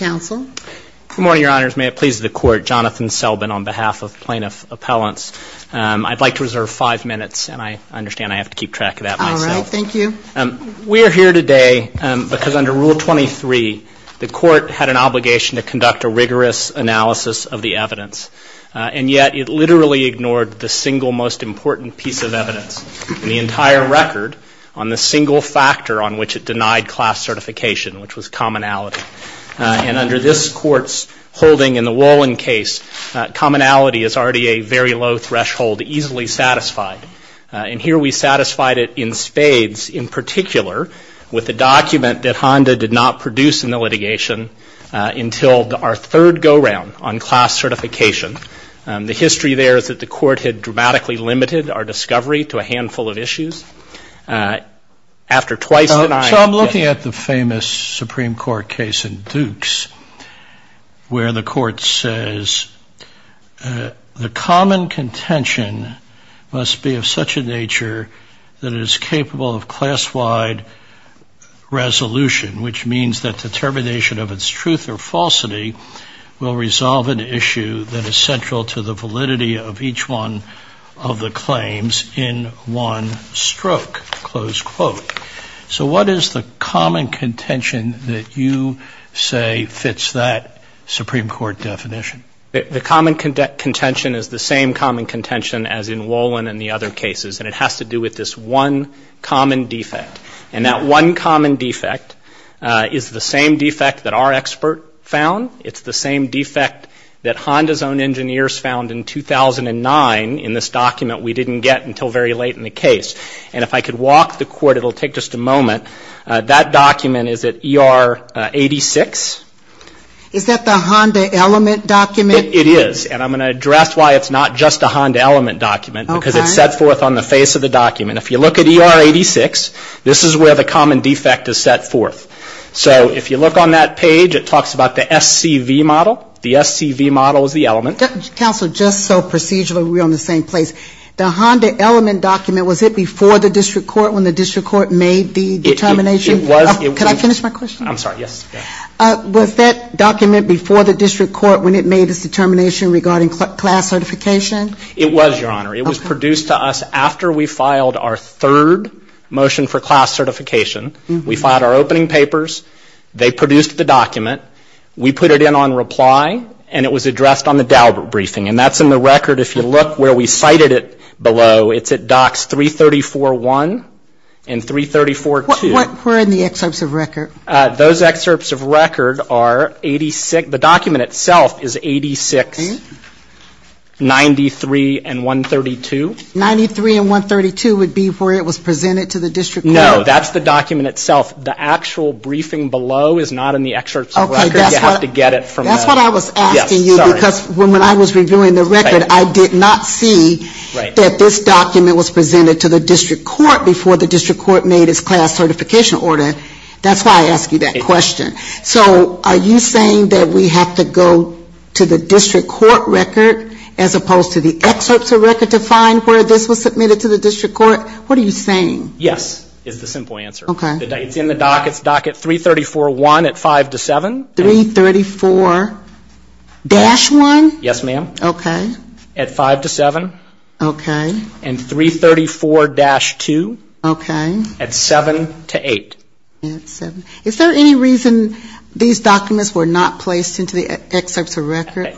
Good morning, Your Honors. May it please the Court, Jonathan Selbin on behalf of Plaintiff Appellants. I'd like to reserve five minutes, and I understand I have to keep track of that myself. All right. Thank you. We are here today because under Rule 23, the Court had an obligation to conduct a rigorous analysis of the evidence, and yet it literally ignored the single most important piece of evidence in the entire record on the single factor on which it denied class certification, which was commonality. And under this Court's holding in the Wolin case, commonality is already a very low threshold, easily satisfied. And here we satisfied it in spades, in particular with the document that Honda did not produce in the litigation until our third go-round on class certification. The history there shows that the Court had dramatically limited our discovery to a handful of issues. After twice denying... So I'm looking at the famous Supreme Court case in Dukes where the Court says the common contention must be of such a nature that it is capable of class-wide resolution, which means that determination of its truth or falsity will resolve an issue that is central to the validity of each one of the claims in one stroke, close quote. So what is the common contention that you say fits that Supreme Court definition? The common contention is the same common contention as in Wolin and the other cases, and it has to do with this one common defect. And that one common defect is the same defect that our expert found. It's the same defect that Honda's own engineers found in 2009 in this document we didn't get until very late in the case. And if I could walk the Court, it will take just a moment. That document is at ER 86. Is that the Honda element document? It is. And I'm going to address why it's not just a Honda element document, because it's set forth on the face of the document. If you look at ER 86, this is where the common defect page, it talks about the SCV model. The SCV model is the element. Counsel, just so procedurally, we're on the same place. The Honda element document, was it before the District Court when the District Court made the determination? It was. Could I finish my question? I'm sorry, yes. Was that document before the District Court when it made its determination regarding class certification? It was, Your Honor. It was produced to us after we filed our third motion for class We put it in on reply, and it was addressed on the Daubert briefing. And that's in the record. If you look where we cited it below, it's at Docs 334.1 and 334.2. Where are the excerpts of record? Those excerpts of record are 86, the document itself is 86.93 and 132. 93 and 132 would be where it was presented to the District Court? No, that's the document itself. The actual briefing below is not in the excerpts of record. You have to get it from them. That's what I was asking you, because when I was reviewing the record, I did not see that this document was presented to the District Court before the District Court made its class certification order. That's why I asked you that question. So are you saying that we have to go to the District Court record as opposed to the excerpts of record to find where this was submitted to the District Court? What are you saying? Yes, is the simple answer. Okay. It's in the Doc. It's Doc at 334.1 at 5 to 7. 334-1? Yes, ma'am. Okay. At 5 to 7. Okay. And 334-2. Okay. At 7 to 8. At 7. Is there any reason these documents were not placed into the excerpts of record?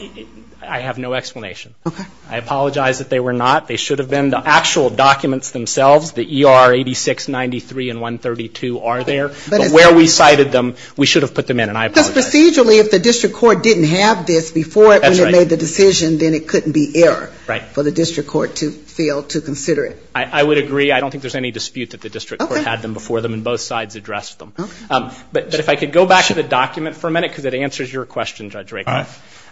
I have no explanation. Okay. I apologize that they were not. They should have been. The actual documents themselves, the ER 8693 and 132 are there. But where we cited them, we should have put them in, and I apologize. Because procedurally, if the District Court didn't have this before it when it made the decision, then it couldn't be error for the District Court to consider it. I would agree. I don't think there's any dispute that the District Court had them before them and both sides addressed them. Okay. But if I could go back to the document for a minute, because it answers your question, Judge Rakel.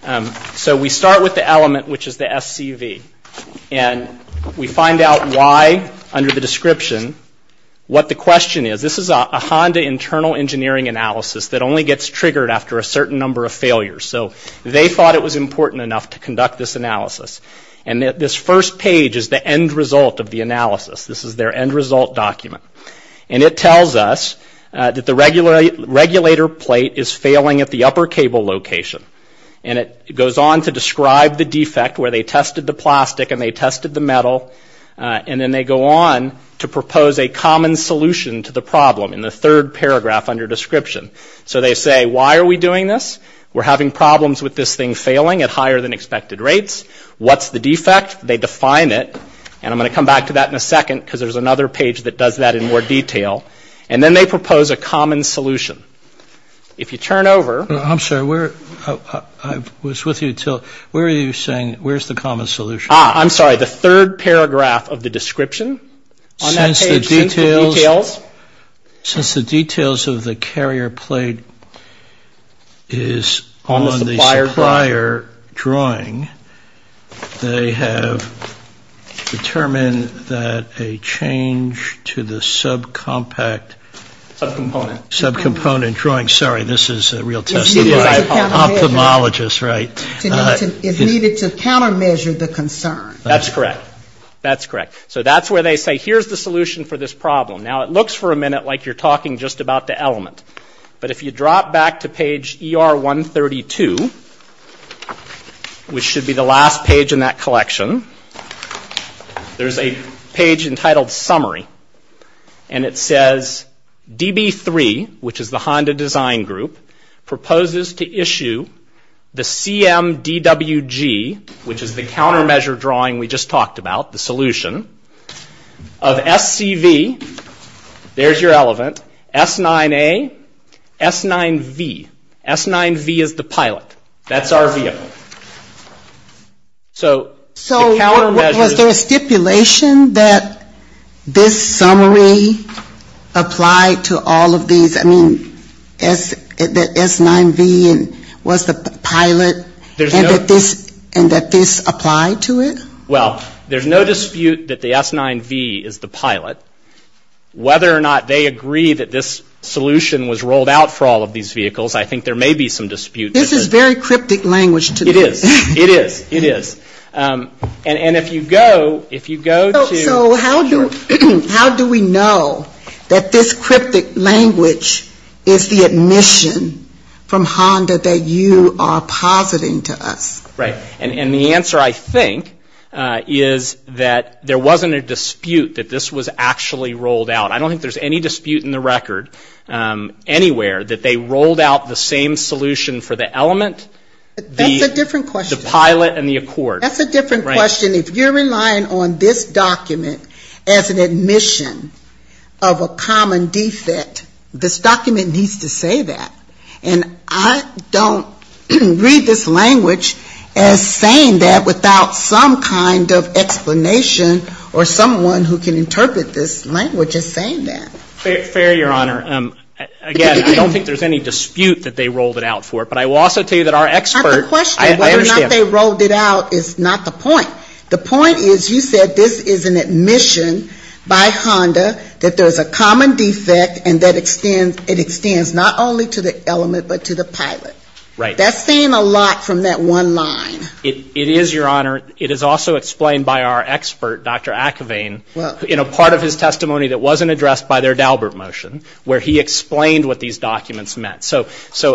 All right. So we start with the element, which is the SCV. And we find out why, under the description, what the question is. This is a Honda internal engineering analysis that only gets triggered after a certain number of failures. So they thought it was important enough to conduct this analysis. And this first page is the end result of the analysis. This is their end result document. And it tells us that the regulator plate is failing at the upper cable location. And it goes on to describe the defect where they tested the plastic and they tested the metal. And then they go on to propose a common solution to the problem in the third paragraph under description. So they say, why are we doing this? We're having problems with this thing failing at higher than expected rates. What's the defect? They define it. And I'm going to come back to that in a second, because there's another page that does that in more detail. And then they propose a common solution. If you turn over. I'm sorry, I was with you until, where are you saying, where's the common solution? I'm sorry, the third paragraph of the description? Since the details of the carrier plate is on the supplier drawing, they have determined a change to the subcompact. Subcomponent. Subcomponent drawing. Sorry, this is a real test. It's needed to countermeasure the concern. That's correct. That's correct. So that's where they say, here's the solution for this problem. Now, it looks for a minute like you're talking just about the element. But if you drop back to page ER 132, which should be the last page in that collection, there's a page entitled Summary. And it says, DB3, which is the Honda Design Group, proposes to issue the CMDWG, which is the countermeasure drawing we just talked about, the solution, of SCV, there's your element, S9A, S9V. S9V is the pilot. That's our VO. So the countermeasures. So was there a stipulation that this summary applied to all of these? I mean, the S9V was the pilot and that this applied to it? Well, there's no dispute that the S9V is the pilot. Whether or not they agree that this solution was rolled out for all of these vehicles, I think there may be some dispute. This is very cryptic language to me. It is. It is. It is. And if you go to the chart. So how do we know that this cryptic language is the admission from Honda that you are positing to us? Right. And the answer, I think, is that there wasn't a dispute that this was actually rolled out. I don't think there's any dispute in the record anywhere that they rolled out the same solution for the element, the pilot and the accord. That's a different question. If you're relying on this document as an admission of a common defect, this document needs to say that. And I don't read this language as saying that without some kind of explanation or someone who can interpret this language as saying that. Fair, Your Honor. Again, I don't think there's any dispute that they rolled it out for. But I will also tell you that our expert. I have a question. I understand. Whether or not they rolled it out is not the point. The point is you said this is an admission by Honda that there's a common defect and that it extends not only to the element but to the pilot. Right. That's saying a lot from that one line. It is, Your Honor. It is also explained by our expert, Dr. Ackervain, in a part of his testimony that wasn't addressed by their Daubert motion where he explained what these documents meant. So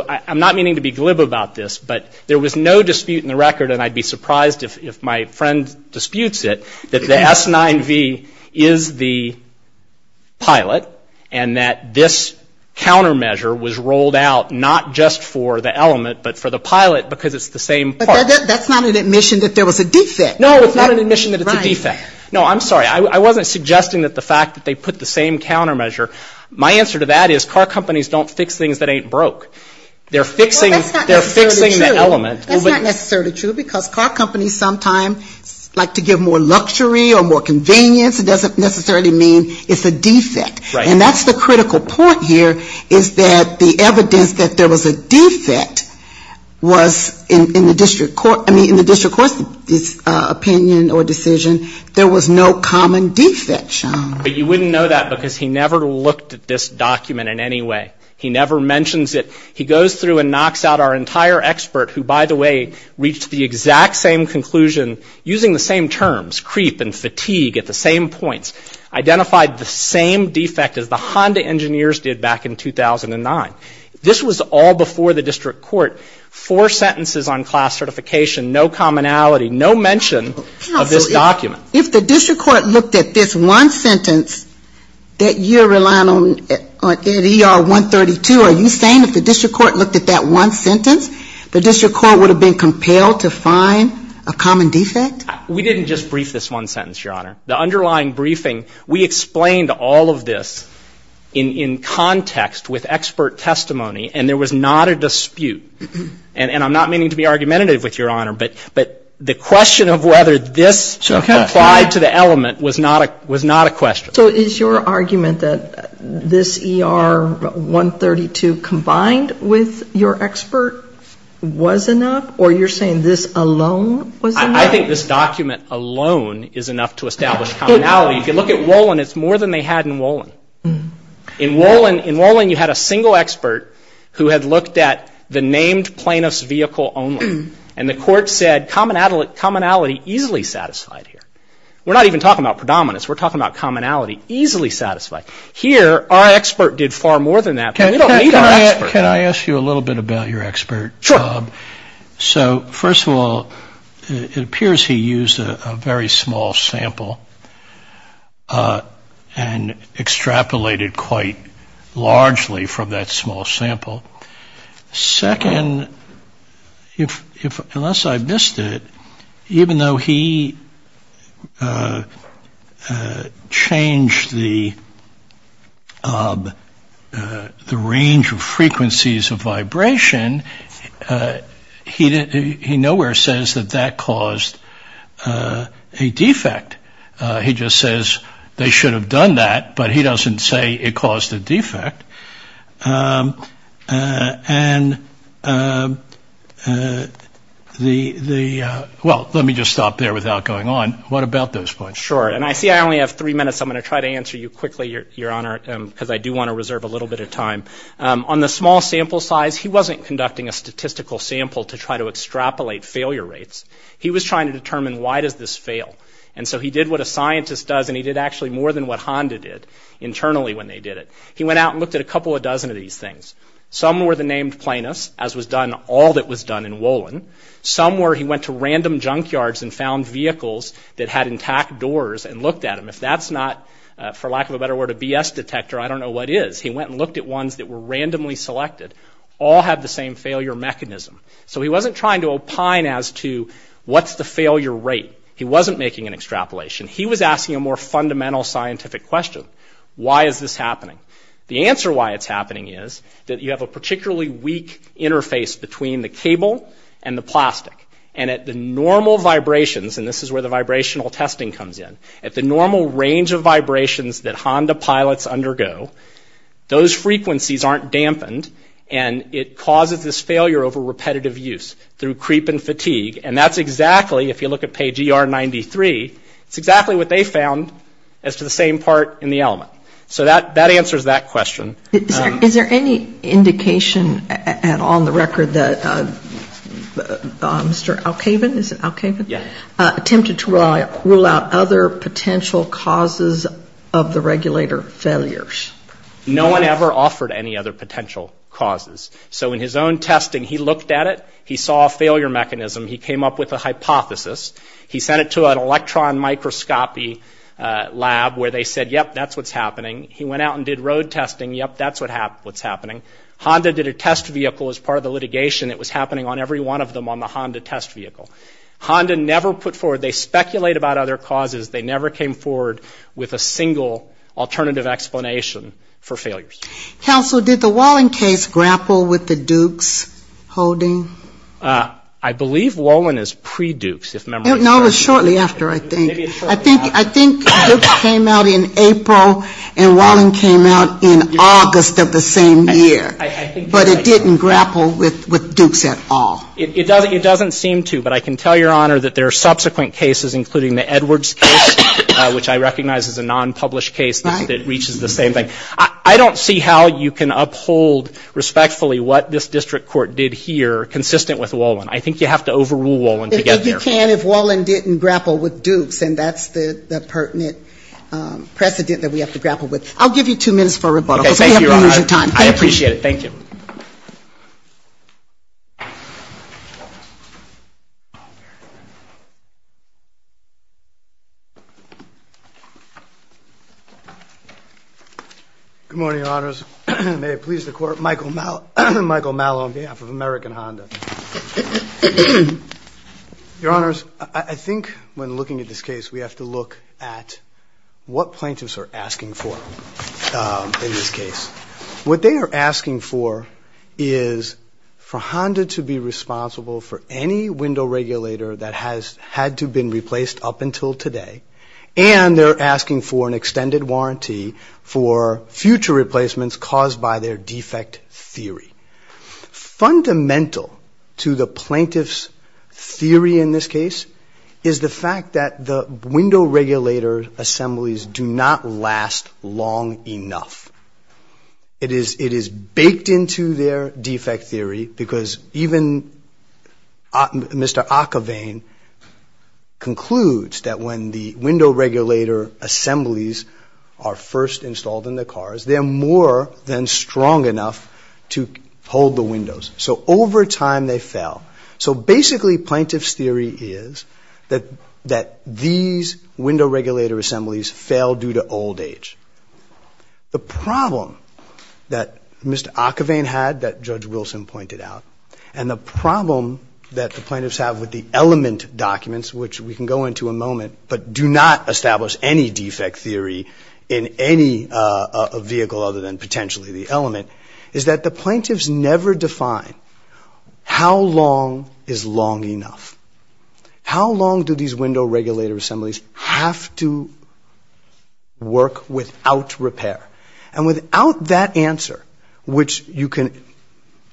I'm not meaning to be glib about this, but there was no dispute in the record, and I'd be surprised if my friend disputes it, that the S9V is the pilot and that this countermeasure was rolled out not just for the element but for the pilot because it's the same part. But that's not an admission that there was a defect. No, it's not an admission that it's a defect. No, I'm sorry. I wasn't suggesting that the fact that they put the same countermeasure. My answer to that is car companies don't fix things that ain't broke. They're fixing the element. That's not necessarily true because car companies sometimes like to give more luxury or more convenience. It doesn't necessarily mean it's a defect. Right. And that's the critical point here is that the evidence that there was a defect was in the district court, I mean in the district court's opinion or decision, there was no common defect, Sean. But you wouldn't know that because he never looked at this document in any way. He never mentions it. He goes through and knocks out our entire expert who, by the way, reached the exact same conclusion, using the same terms, creep and fatigue at the same points, identified the same defect as the Honda engineers did back in 2009. This was all before the district court. Four sentences on class certification, no commonality, no mention of this document. Counsel, if the district court looked at this one sentence that you're relying on at ER 132, are you saying if the district court looked at that one sentence, the district court would have been compelled to find a common defect? We didn't just brief this one sentence, Your Honor. The underlying briefing, we explained all of this in context with expert testimony, and there was not a dispute. And I'm not meaning to be argumentative with Your Honor, but the question of whether this applied to the element was not a question. So is your argument that this ER 132 combined with your expert was enough, or you're saying this alone was enough? I think this document alone is enough to establish commonality. If you look at Wolin, it's more than they had in Wolin. In Wolin, you had a single expert who had looked at the named plaintiff's vehicle only, and the court said commonality easily satisfied here. We're not even talking about predominance. We're talking about commonality easily satisfied. Here, our expert did far more than that, but we don't need our expert. Can I ask you a little bit about your expert? Sure. So, first of all, it appears he used a very small sample and extrapolated quite largely from that small sample. Second, unless I missed it, even though he changed the range of frequencies of vibration, he nowhere says that that caused a defect. He just says they should have done that, but he doesn't say it caused a defect. And the ‑‑ well, let me just stop there without going on. What about those points? Sure. And I see I only have three minutes, so I'm going to try to answer you quickly, Your Honor, because I do want to reserve a little bit of time. On the small sample size, he wasn't conducting a statistical sample to try to extrapolate failure rates. He was trying to determine why does this fail. And so he did what a scientist does, and he did actually more than what Honda did internally when they did it. He went out and looked at a couple of dozen of these things. Some were the named plaintiffs, as was done all that was done in Wolin. Some were he went to random junkyards and found vehicles that had intact doors and looked at them. If that's not, for lack of a better word, a BS detector, I don't know what is. He went and looked at ones that were randomly selected. All had the same failure mechanism. So he wasn't trying to opine as to what's the failure rate. He wasn't making an extrapolation. He was asking a more fundamental scientific question. Why is this happening? The answer why it's happening is that you have a particularly weak interface between the cable and the plastic. And at the normal vibrations, and this is where the vibrational testing comes in, at the normal range of vibrations that Honda pilots undergo, those frequencies aren't dampened. And it causes this failure over repetitive use through creep and fatigue. And that's exactly, if you look at page ER 93, it's exactly what they found as to the same part in the element. So that answers that question. Is there any indication at all in the record that Mr. Alkaven, is it Alkaven? Yeah. Attempted to rule out other potential causes of the regulator failures. No one ever offered any other potential causes. So in his own testing, he looked at it. He saw a failure mechanism. He came up with a hypothesis. He sent it to an electron microscopy lab where they said, yep, that's what's happening. He went out and did road testing. Yep, that's what's happening. Honda did a test vehicle as part of the litigation. It was happening on every one of them on the Honda test vehicle. Honda never put forward, they speculate about other causes. They never came forward with a single alternative explanation for failures. Counsel, did the Wallin case grapple with the Dukes holding? I believe Wallin is pre-Dukes. No, it was shortly after, I think. I think Dukes came out in April and Wallin came out in August of the same year. But it didn't grapple with Dukes at all. It doesn't seem to. But I can tell Your Honor that there are subsequent cases, including the Edwards case, which I recognize is a non-published case that reaches the same thing. I don't see how you can uphold respectfully what this district court did here, consistent with Wallin. I think you have to overrule Wallin to get there. You can if Wallin didn't grapple with Dukes. And that's the pertinent precedent that we have to grapple with. I'll give you two minutes for rebuttal. Okay, thank you, Your Honor. I appreciate it. Thank you. Good morning, Your Honors. May it please the Court, Michael Mallow on behalf of American Honda. Your Honors, I think when looking at this case, we have to look at what plaintiffs are asking for in this case. What they are asking for is for Honda to be responsible for any window regulator that has had to been replaced up until today, and they're asking for an extended warranty for future replacements caused by their defect theory. Fundamental to the plaintiff's theory in this case is the fact that the window regulator assemblies do not last long enough. It is baked into their defect theory because even Mr. Ockervane concludes that when the window regulator assemblies are first installed in the cars, they're more than strong enough to hold the windows. So over time, they fail. So basically, plaintiff's theory is that these window regulator assemblies fail due to old age. The problem that Mr. Ockervane had that Judge Wilson pointed out, and the problem that the plaintiffs have with the element documents, which we can go into in a moment but do not establish any defect theory in any vehicle other than potentially the element, is that the plaintiffs never define how long is long enough. How long do these window regulator assemblies have to work without repair? And without that answer, which you can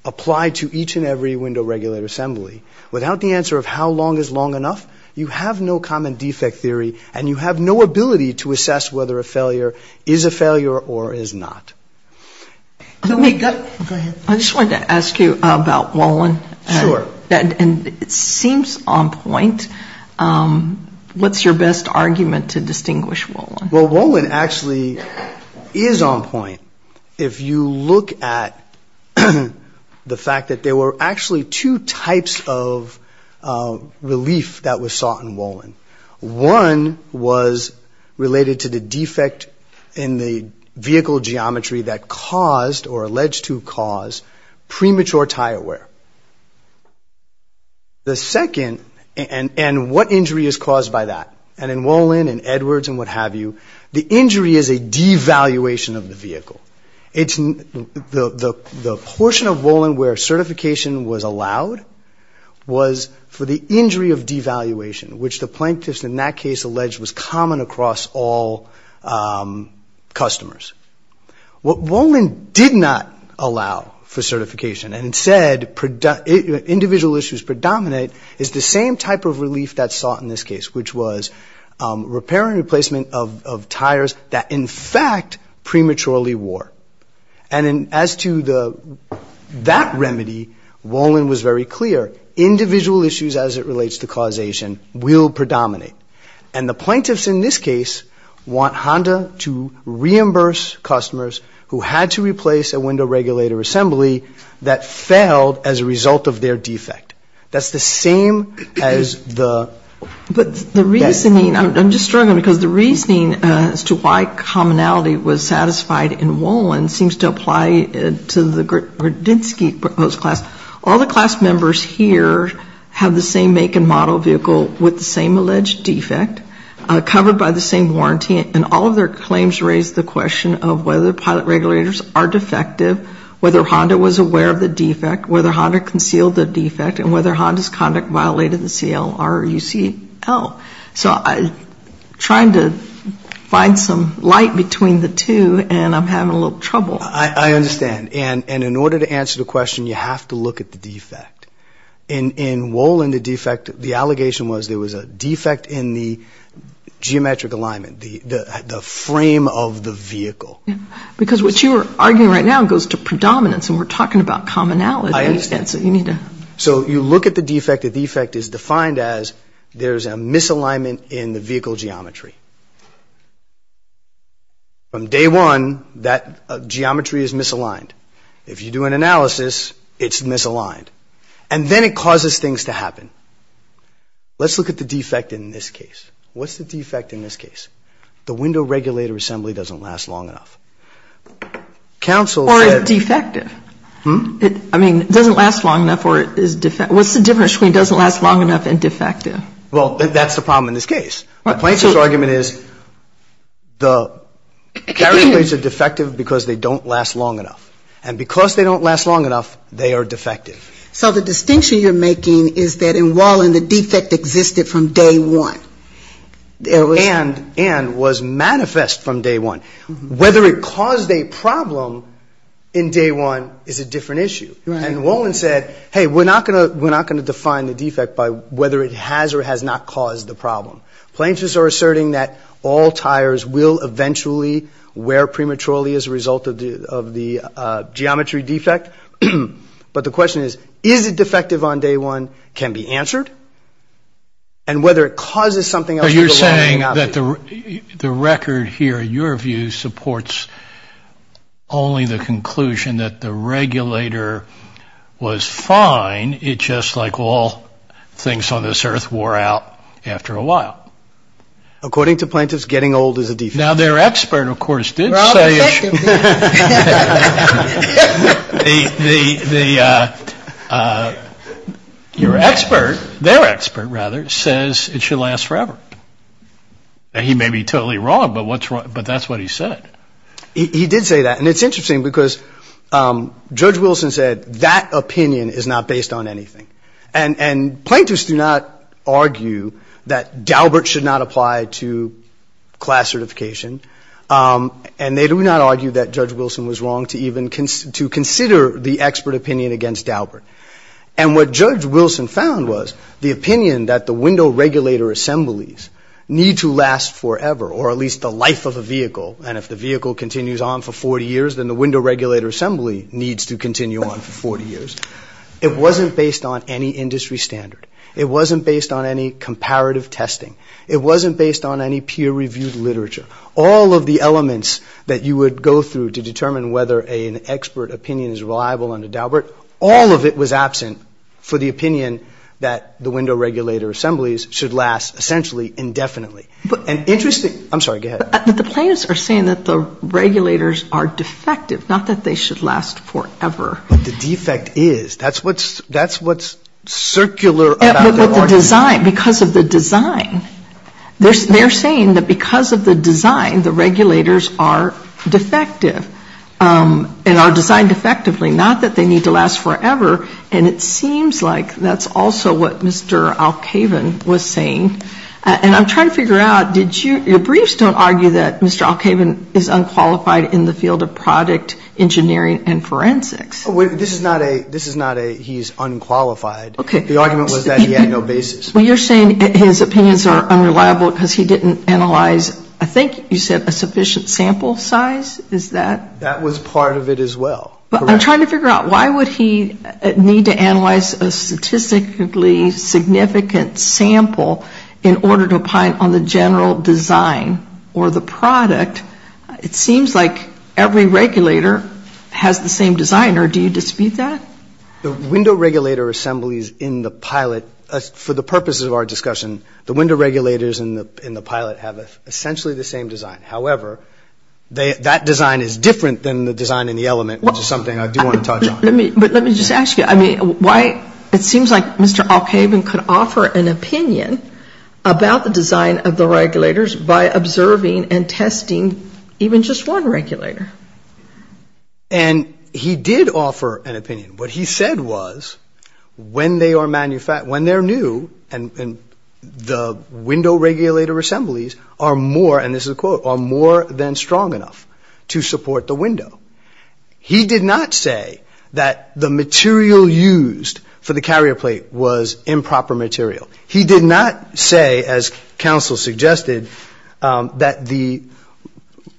apply to each and every window regulator assembly, without the answer of how long is long enough, you have no common defect theory and you have no ability to assess whether a failure is a failure or is not. Go ahead. I just wanted to ask you about Wolin. Sure. And it seems on point. What's your best argument to distinguish Wolin? Well, Wolin actually is on point. If you look at the fact that there were actually two types of relief that was sought in Wolin. One was related to the defect in the vehicle geometry that caused or alleged to cause premature tire wear. The second, and what injury is caused by that? And in Wolin and Edwards and what have you, the injury is a devaluation of the vehicle. The portion of Wolin where certification was allowed was for the injury of devaluation, which the plaintiffs in that case alleged was common across all customers. What Wolin did not allow for certification and said individual issues predominate is the same type of relief that's sought in this case, which was repair and replacement of tires that in fact prematurely wore. And as to that remedy, Wolin was very clear. Individual issues as it relates to causation will predominate. And the plaintiffs in this case want Honda to reimburse customers who had to replace a window regulator assembly that failed as a result of their defect. That's the same as the- But the reasoning, I'm just struggling because the reasoning as to why commonality was satisfied in Wolin seems to apply to the Grudensky proposed class. All the class members here have the same make and model vehicle with the same alleged defect, covered by the same warranty. And all of their claims raise the question of whether pilot regulators are defective, whether Honda was aware of the defect, whether Honda concealed the defect, and whether Honda's conduct violated the CLR or UCL. So I'm trying to find some light between the two, and I'm having a little trouble. I understand. And in order to answer the question, you have to look at the defect. In Wolin, the defect, the allegation was there was a defect in the geometric alignment, the frame of the vehicle. Because what you are arguing right now goes to predominance, and we're talking about commonality. I understand. So you need to- If you look at the defect, the defect is defined as there's a misalignment in the vehicle geometry. From day one, that geometry is misaligned. If you do an analysis, it's misaligned. And then it causes things to happen. Let's look at the defect in this case. What's the defect in this case? The window regulator assembly doesn't last long enough. Counsel said- Or it's defective. Hmm? I mean, it doesn't last long enough, or it's defective. What's the difference between doesn't last long enough and defective? Well, that's the problem in this case. The plaintiff's argument is the carriage plates are defective because they don't last long enough. And because they don't last long enough, they are defective. So the distinction you're making is that in Wolin, the defect existed from day one. And was manifest from day one. Whether it caused a problem in day one is a different issue. And Wolin said, hey, we're not going to define the defect by whether it has or has not caused the problem. Plaintiffs are asserting that all tires will eventually wear prematurely as a result of the geometry defect. But the question is, is it defective on day one can be answered. And whether it causes something else- The record here, in your view, supports only the conclusion that the regulator was fine. It's just like all things on this earth wore out after a while. According to plaintiffs, getting old is a defect. Now, their expert, of course, did say- Well, I'll be second. Your expert, their expert, rather, says it should last forever. He may be totally wrong, but that's what he said. He did say that. And it's interesting because Judge Wilson said that opinion is not based on anything. And plaintiffs do not argue that Daubert should not apply to class certification. And they do not argue that Judge Wilson was wrong to even consider the expert opinion against Daubert. And what Judge Wilson found was the opinion that the window regulator assemblies need to last forever, or at least the life of a vehicle. And if the vehicle continues on for 40 years, then the window regulator assembly needs to continue on for 40 years. It wasn't based on any industry standard. It wasn't based on any comparative testing. It wasn't based on any peer-reviewed literature. All of the elements that you would go through to determine whether an expert opinion is reliable under Daubert, all of it was absent for the opinion that the window regulator assemblies should last essentially indefinitely. But an interesting- I'm sorry, go ahead. But the plaintiffs are saying that the regulators are defective, not that they should last forever. But the defect is. That's what's circular about their argument. Because of the design. They're saying that because of the design, the regulators are defective and are designed effectively, not that they need to last forever. And it seems like that's also what Mr. Alkaven was saying. And I'm trying to figure out, did you- your briefs don't argue that Mr. Alkaven is unqualified in the field of product engineering and forensics. This is not a he's unqualified. Okay. The argument was that he had no basis. Well, you're saying his opinions are unreliable because he didn't analyze, I think you said, a sufficient sample size. Is that- That was part of it as well. But I'm trying to figure out, why would he need to analyze a statistically significant sample in order to opine on the general design or the product? It seems like every regulator has the same design. Or do you dispute that? The window regulator assemblies in the pilot, for the purposes of our discussion, the window regulators in the pilot have essentially the same design. However, that design is different than the design in the element, which is something I do want to touch on. But let me just ask you, I mean, why- it seems like Mr. Alkaven could offer an opinion about the design of the regulators by observing and testing even just one regulator. And he did offer an opinion. What he said was when they are new and the window regulator assemblies are more, and this is a quote, are more than strong enough to support the window. He did not say that the material used for the carrier plate was improper material. He did not say, as counsel suggested, that the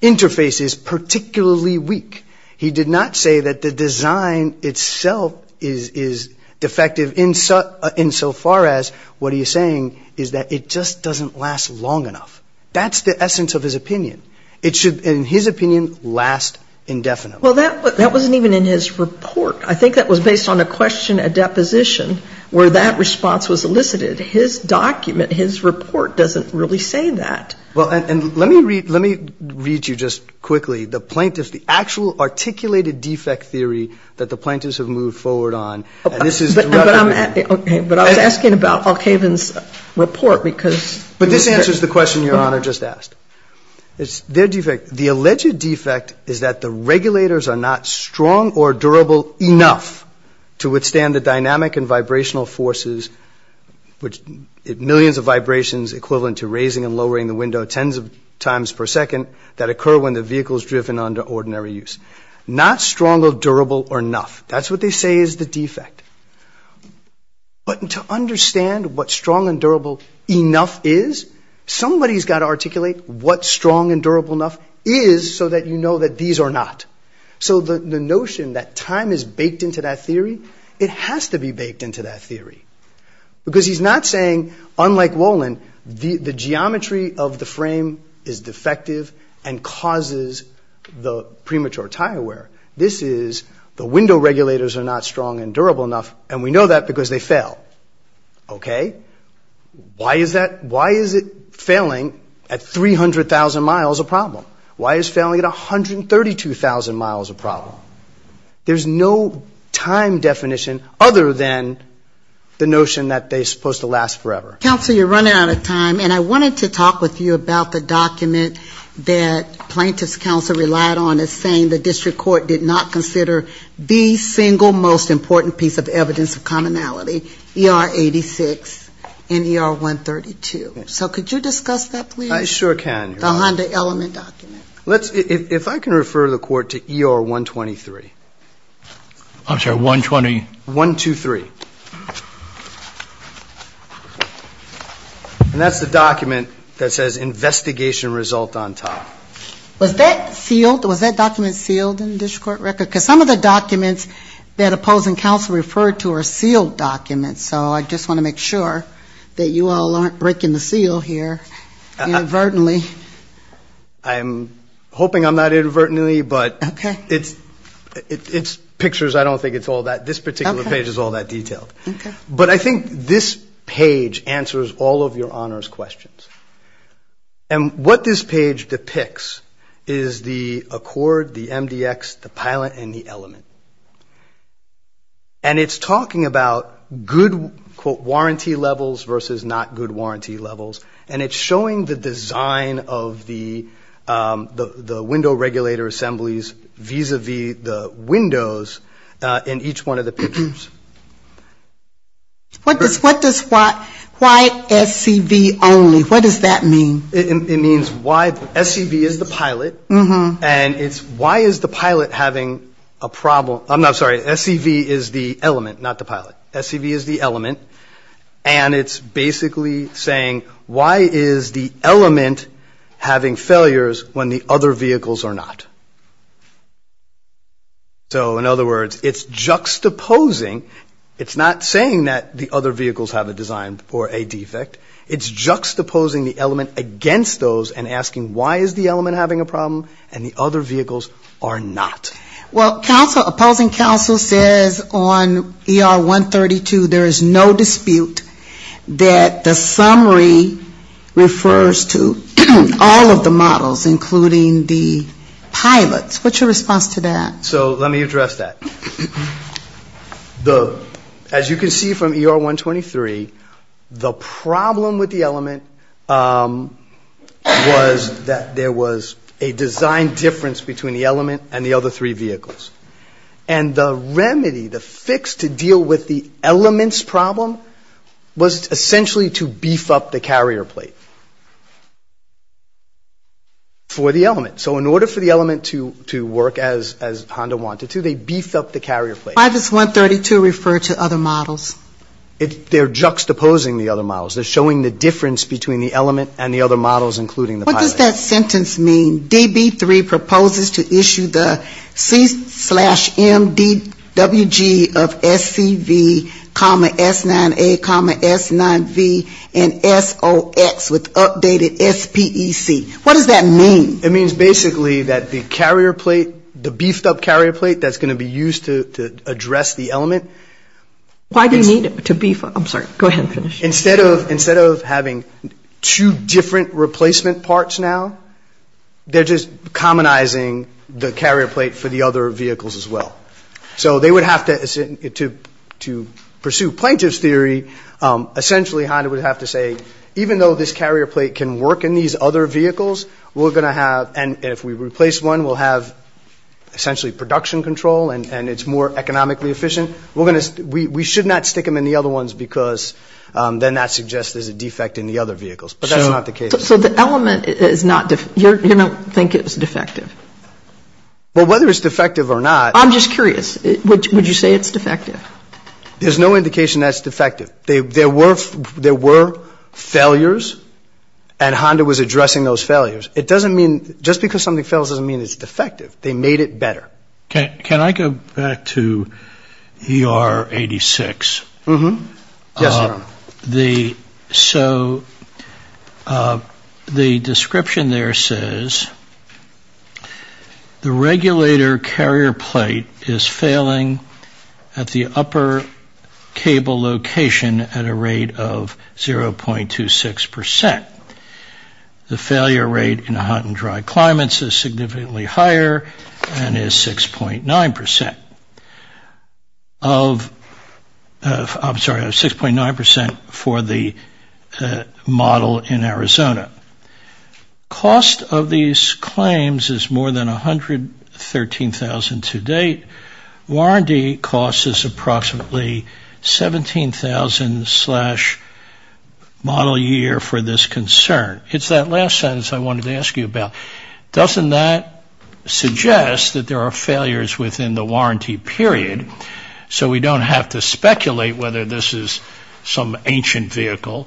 interface is particularly weak. He did not say that the design itself is defective insofar as what he is saying is that it just doesn't last long enough. That's the essence of his opinion. It should, in his opinion, last indefinitely. Well, that wasn't even in his report. I think that was based on a question at deposition where that response was elicited. His document, his report doesn't really say that. Well, and let me read you just quickly the plaintiffs, the actual articulated defect theory that the plaintiffs have moved forward on. And this is- Okay, but I was asking about Alkaven's report because- But this answers the question Your Honor just asked. It's their defect. The alleged defect is that the regulators are not strong or durable enough to withstand the dynamic and vibrational forces, which millions of vibrations equivalent to raising and lowering the window tens of times per second that occur when the vehicle is driven under ordinary use. Not strong or durable enough. That's what they say is the defect. But to understand what strong and durable enough is, somebody's got to articulate what strong and durable enough is so that you know that these are not. So the notion that time is baked into that theory, it has to be baked into that theory. Because he's not saying, unlike Wolin, the geometry of the frame is defective and causes the premature tire wear. This is the window regulators are not strong and durable enough, and we know that because they fail. Okay? Why is that- Why is it failing at 300,000 miles a problem? Why is failing at 132,000 miles a problem? There's no time definition other than the notion that they're supposed to last forever. Counsel, you're running out of time. And I wanted to talk with you about the document that plaintiff's counsel relied on as saying the district court did not consider the single most important piece of evidence of commonality, ER-86 and ER-132. So could you discuss that, please? I sure can. The Honda Element document. If I can refer the court to ER-123. I'm sorry, 120- 123. And that's the document that says investigation result on top. Was that sealed? Was that document sealed in the district court record? Because some of the documents that opposing counsel referred to are sealed documents. So I just want to make sure that you all aren't breaking the seal here inadvertently. I'm hoping I'm not inadvertently, but it's pictures. I don't think it's all that. This particular page is all that detailed. But I think this page answers all of your honors questions. And what this page depicts is the accord, the MDX, the pilot, and the element. And it's talking about good, quote, warranty levels versus not good warranty levels. And it's showing the design of the window regulator assemblies vis-a-vis the windows in each one of the pictures. What does why SCV only, what does that mean? It means why SCV is the pilot. And it's why is the pilot having a problem? I'm sorry, SCV is the element, not the pilot. SCV is the element. And it's basically saying why is the element having failures when the other vehicles are not? So in other words, it's juxtaposing, it's not saying that the other vehicles have a design or a defect. It's juxtaposing the element against those and asking why is the element having a problem and the other vehicles are not. Well, opposing counsel says on ER 132 there is no dispute that the summary refers to all of the models, including the pilots. What's your response to that? So let me address that. As you can see from ER 123, the problem with the element was that there was a design difference between the element and the other three vehicles. And the remedy, the fix to deal with the element's problem was essentially to beef up the carrier plate for the element. So in order for the element to work as Honda wanted to, they beefed up the carrier plate. Why does 132 refer to other models? They're juxtaposing the other models. They're showing the difference between the element and the other models, including the pilots. What does that sentence mean? DB3 proposes to issue the C slash MDWG of SCV comma S9A comma S9V and SOX with updated SPEC. What does that mean? It means basically that the carrier plate, the beefed up carrier plate that's going to be used to address the element. Why do you need it to beef up? Instead of having two different replacement parts now, they're just commonizing the carrier plate for the other vehicles as well. So they would have to, to pursue plaintiff's theory, essentially Honda would have to say, even though this carrier plate can work in these other vehicles, we're going to have, and if we replace one, we'll have essentially production control and it's more economically efficient. We should not stick them in the other ones because then that suggests there's a defect in the other vehicles, but that's not the case. So the element is not, you don't think it's defective? Well, whether it's defective or not. I'm just curious, would you say it's defective? There's no indication that's defective. There were failures and Honda was addressing those failures. It doesn't mean, just because something fails doesn't mean it's defective. They made it better. Can I go back to ER 86? Yes, Your Honor. So the description there says, the regulator carrier plate is failing at the upper cable location at a rate of 0.26%. The failure rate in hot and dry climates is significantly higher and is 6.9%. I'm sorry, 6.9% for the model in Arizona. Cost of these claims is more than $113,000 to date. Warranty cost is approximately $17,000 model year for this concern. It's that last sentence I wanted to ask you about. Doesn't that suggest that there are failures within the warranty period? So we don't have to speculate whether this is some ancient vehicle.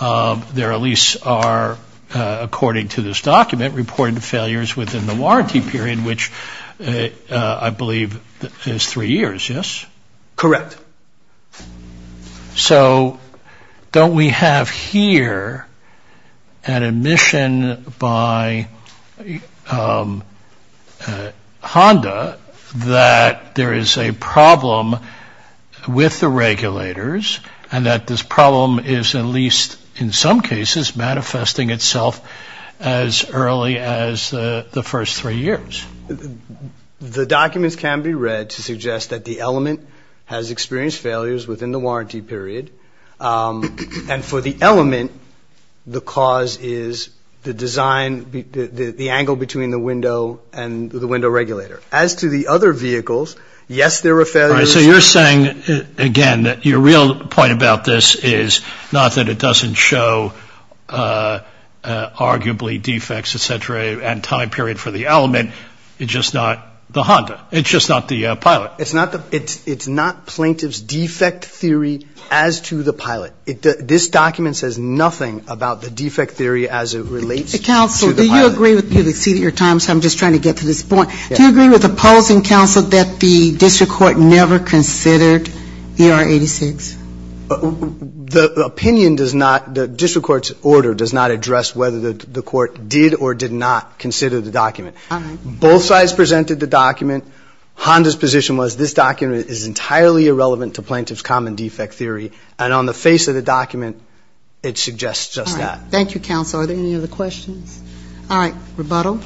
There at least are, according to this document, reported failures within the warranty period, which I believe is three years, yes? Correct. So don't we have here an admission by Honda that there is a problem with the regulators and that this problem is at least in some cases manifesting itself as early as the first three years? The documents can be read to suggest that the element has experienced failures within the warranty period and for the element, the cause is the design, the angle between the window and the window regulator. As to the other vehicles, yes, there were failures. So you're saying, again, that your real point about this is not that it doesn't show arguably defects, et cetera, and time period for the element. It's just not the Honda. It's just not the pilot. It's not plaintiff's defect theory as to the pilot. This document says nothing about the defect theory as it relates to the pilot. Do you agree with opposing counsel that the district court never considered ER 86? The opinion does not, the district court's order does not address whether the court did or did not consider the document. Both sides presented the document. Honda's position was this document is entirely irrelevant to plaintiff's common defect theory, and on the face of the document, it suggests just that. Thank you, counsel. Are there any other questions? All right, rebuttal.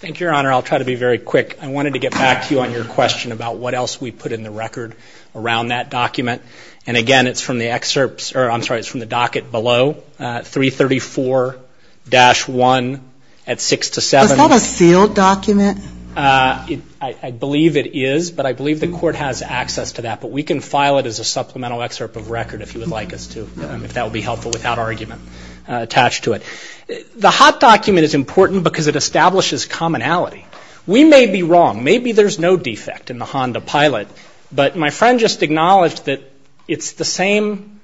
Thank you, Your Honor. I'll try to be very quick. I wanted to get back to you on your question about what else we put in the record around that document. And again, it's from the docket below, 334-1 at 6 to 7. Is that a sealed document? I believe it is, but I believe the court has access to that. But we can file it as a supplemental excerpt of record if you would like us to, if that would be helpful without argument attached to it. I'm not sure that's wrong. Maybe there's no defect in the Honda Pilot, but my friend just acknowledged that it's the same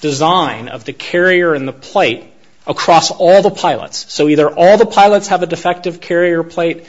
design of the carrier and the plate across all the pilots. So either all the pilots have a defective carrier plate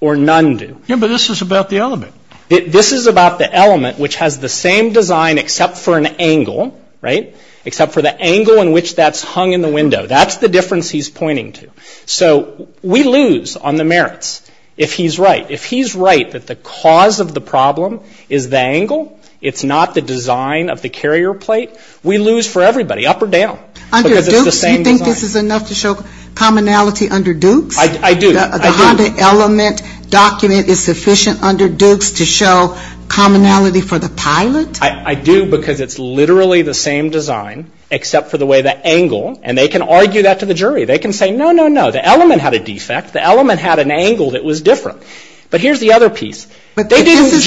or none do. Yeah, but this is about the element. This is about the element which has the same design except for an angle, right, except for the angle in which that's hung in the window. That's the difference he's pointing to. So we lose on the merits if he's right. If he's right that the cause of the problem is the angle, it's not the design of the carrier plate, we lose for everybody, up or down. Under Dukes, you think this is enough to show commonality under Dukes? I do. The Honda element document is sufficient under Dukes to show commonality for the pilot? I do, because it's literally the same design except for the way the angle, and they can argue that to the jury. They can say no, no, no, the element had a defect. The element had an angle that was different. But here's the other piece. If this is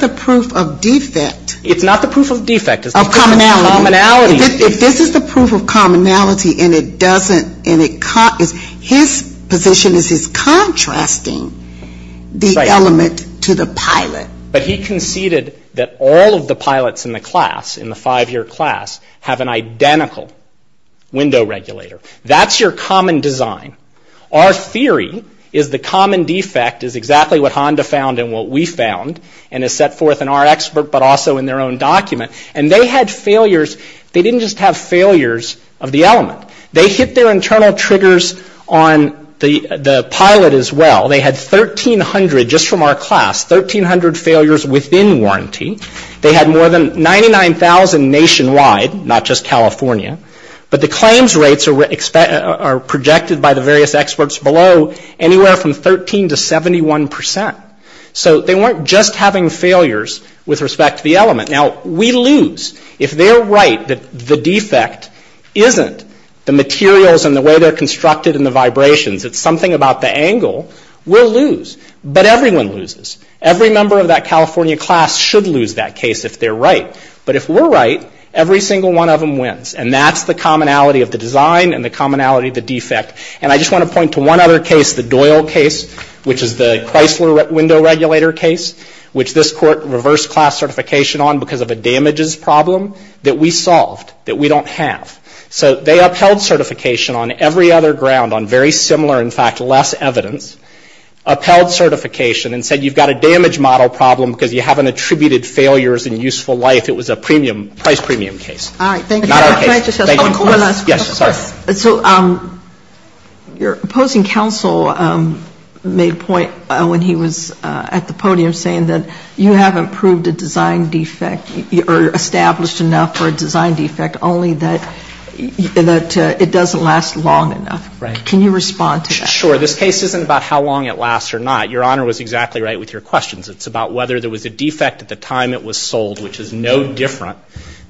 the proof of commonality and it doesn't, his position is he's contrasting the element to the pilot. But he conceded that all of the pilots in the class, in the five-year class, have an identical window regulator. That's your common design. Our theory is the common defect is exactly what Honda found and what we found, and is set forth in our expert, but also in their own document. And they had failures, they didn't just have failures of the element. They hit their internal triggers on the pilot as well. They had 1,300 just from our class, 1,300 failures within warranty. They had more than 99,000 nationwide, not just California. But the claims rates are projected by the various experts below anywhere from 13 to 71%. So they weren't just having failures with respect to the element. Now, we lose. If they're right that the defect isn't the materials and the way they're constructed and the vibrations, it's something about the angle, we'll lose. But everyone loses. Every member of that California class should lose that case if they're right. But if we're right, every single one of them wins. And that's the commonality of the design and the commonality of the defect. And I just want to point to one other case, the Doyle case, which is the Chrysler window regulator case, which this court reversed class certification on because of a damages problem that we solved, that we don't have. So they upheld certification on every other ground on very similar, in fact, less evidence. Upheld certification and said, you've got a damage model problem because you haven't attributed failures in useful life. It was a premium, price premium case. So your opposing counsel made a point when he was at the podium saying that you haven't proved a design defect or established enough for a design defect, only that it doesn't last long enough. Can you respond to that? Sure. This case isn't about how long it lasts or not. Your Honor was exactly right with your questions. It's about whether there was a defect at the time it was sold, which is no different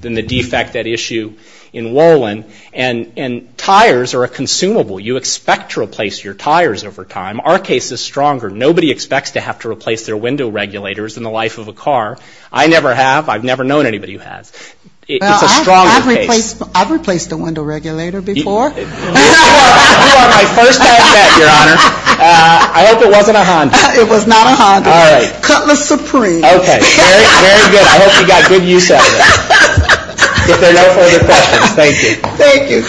than the defect at issue in Wolin. And tires are a consumable. You expect to replace your tires over time. Our case is stronger. Nobody expects to have to replace their window regulators in the life of a car. I never have. I've never known anybody who has. I've replaced the window regulator before. I hope it wasn't a Honda. It was not a Honda. Cutler Supreme. Okay. Very good. I hope you got good use out of it. If there are no further questions, thank you.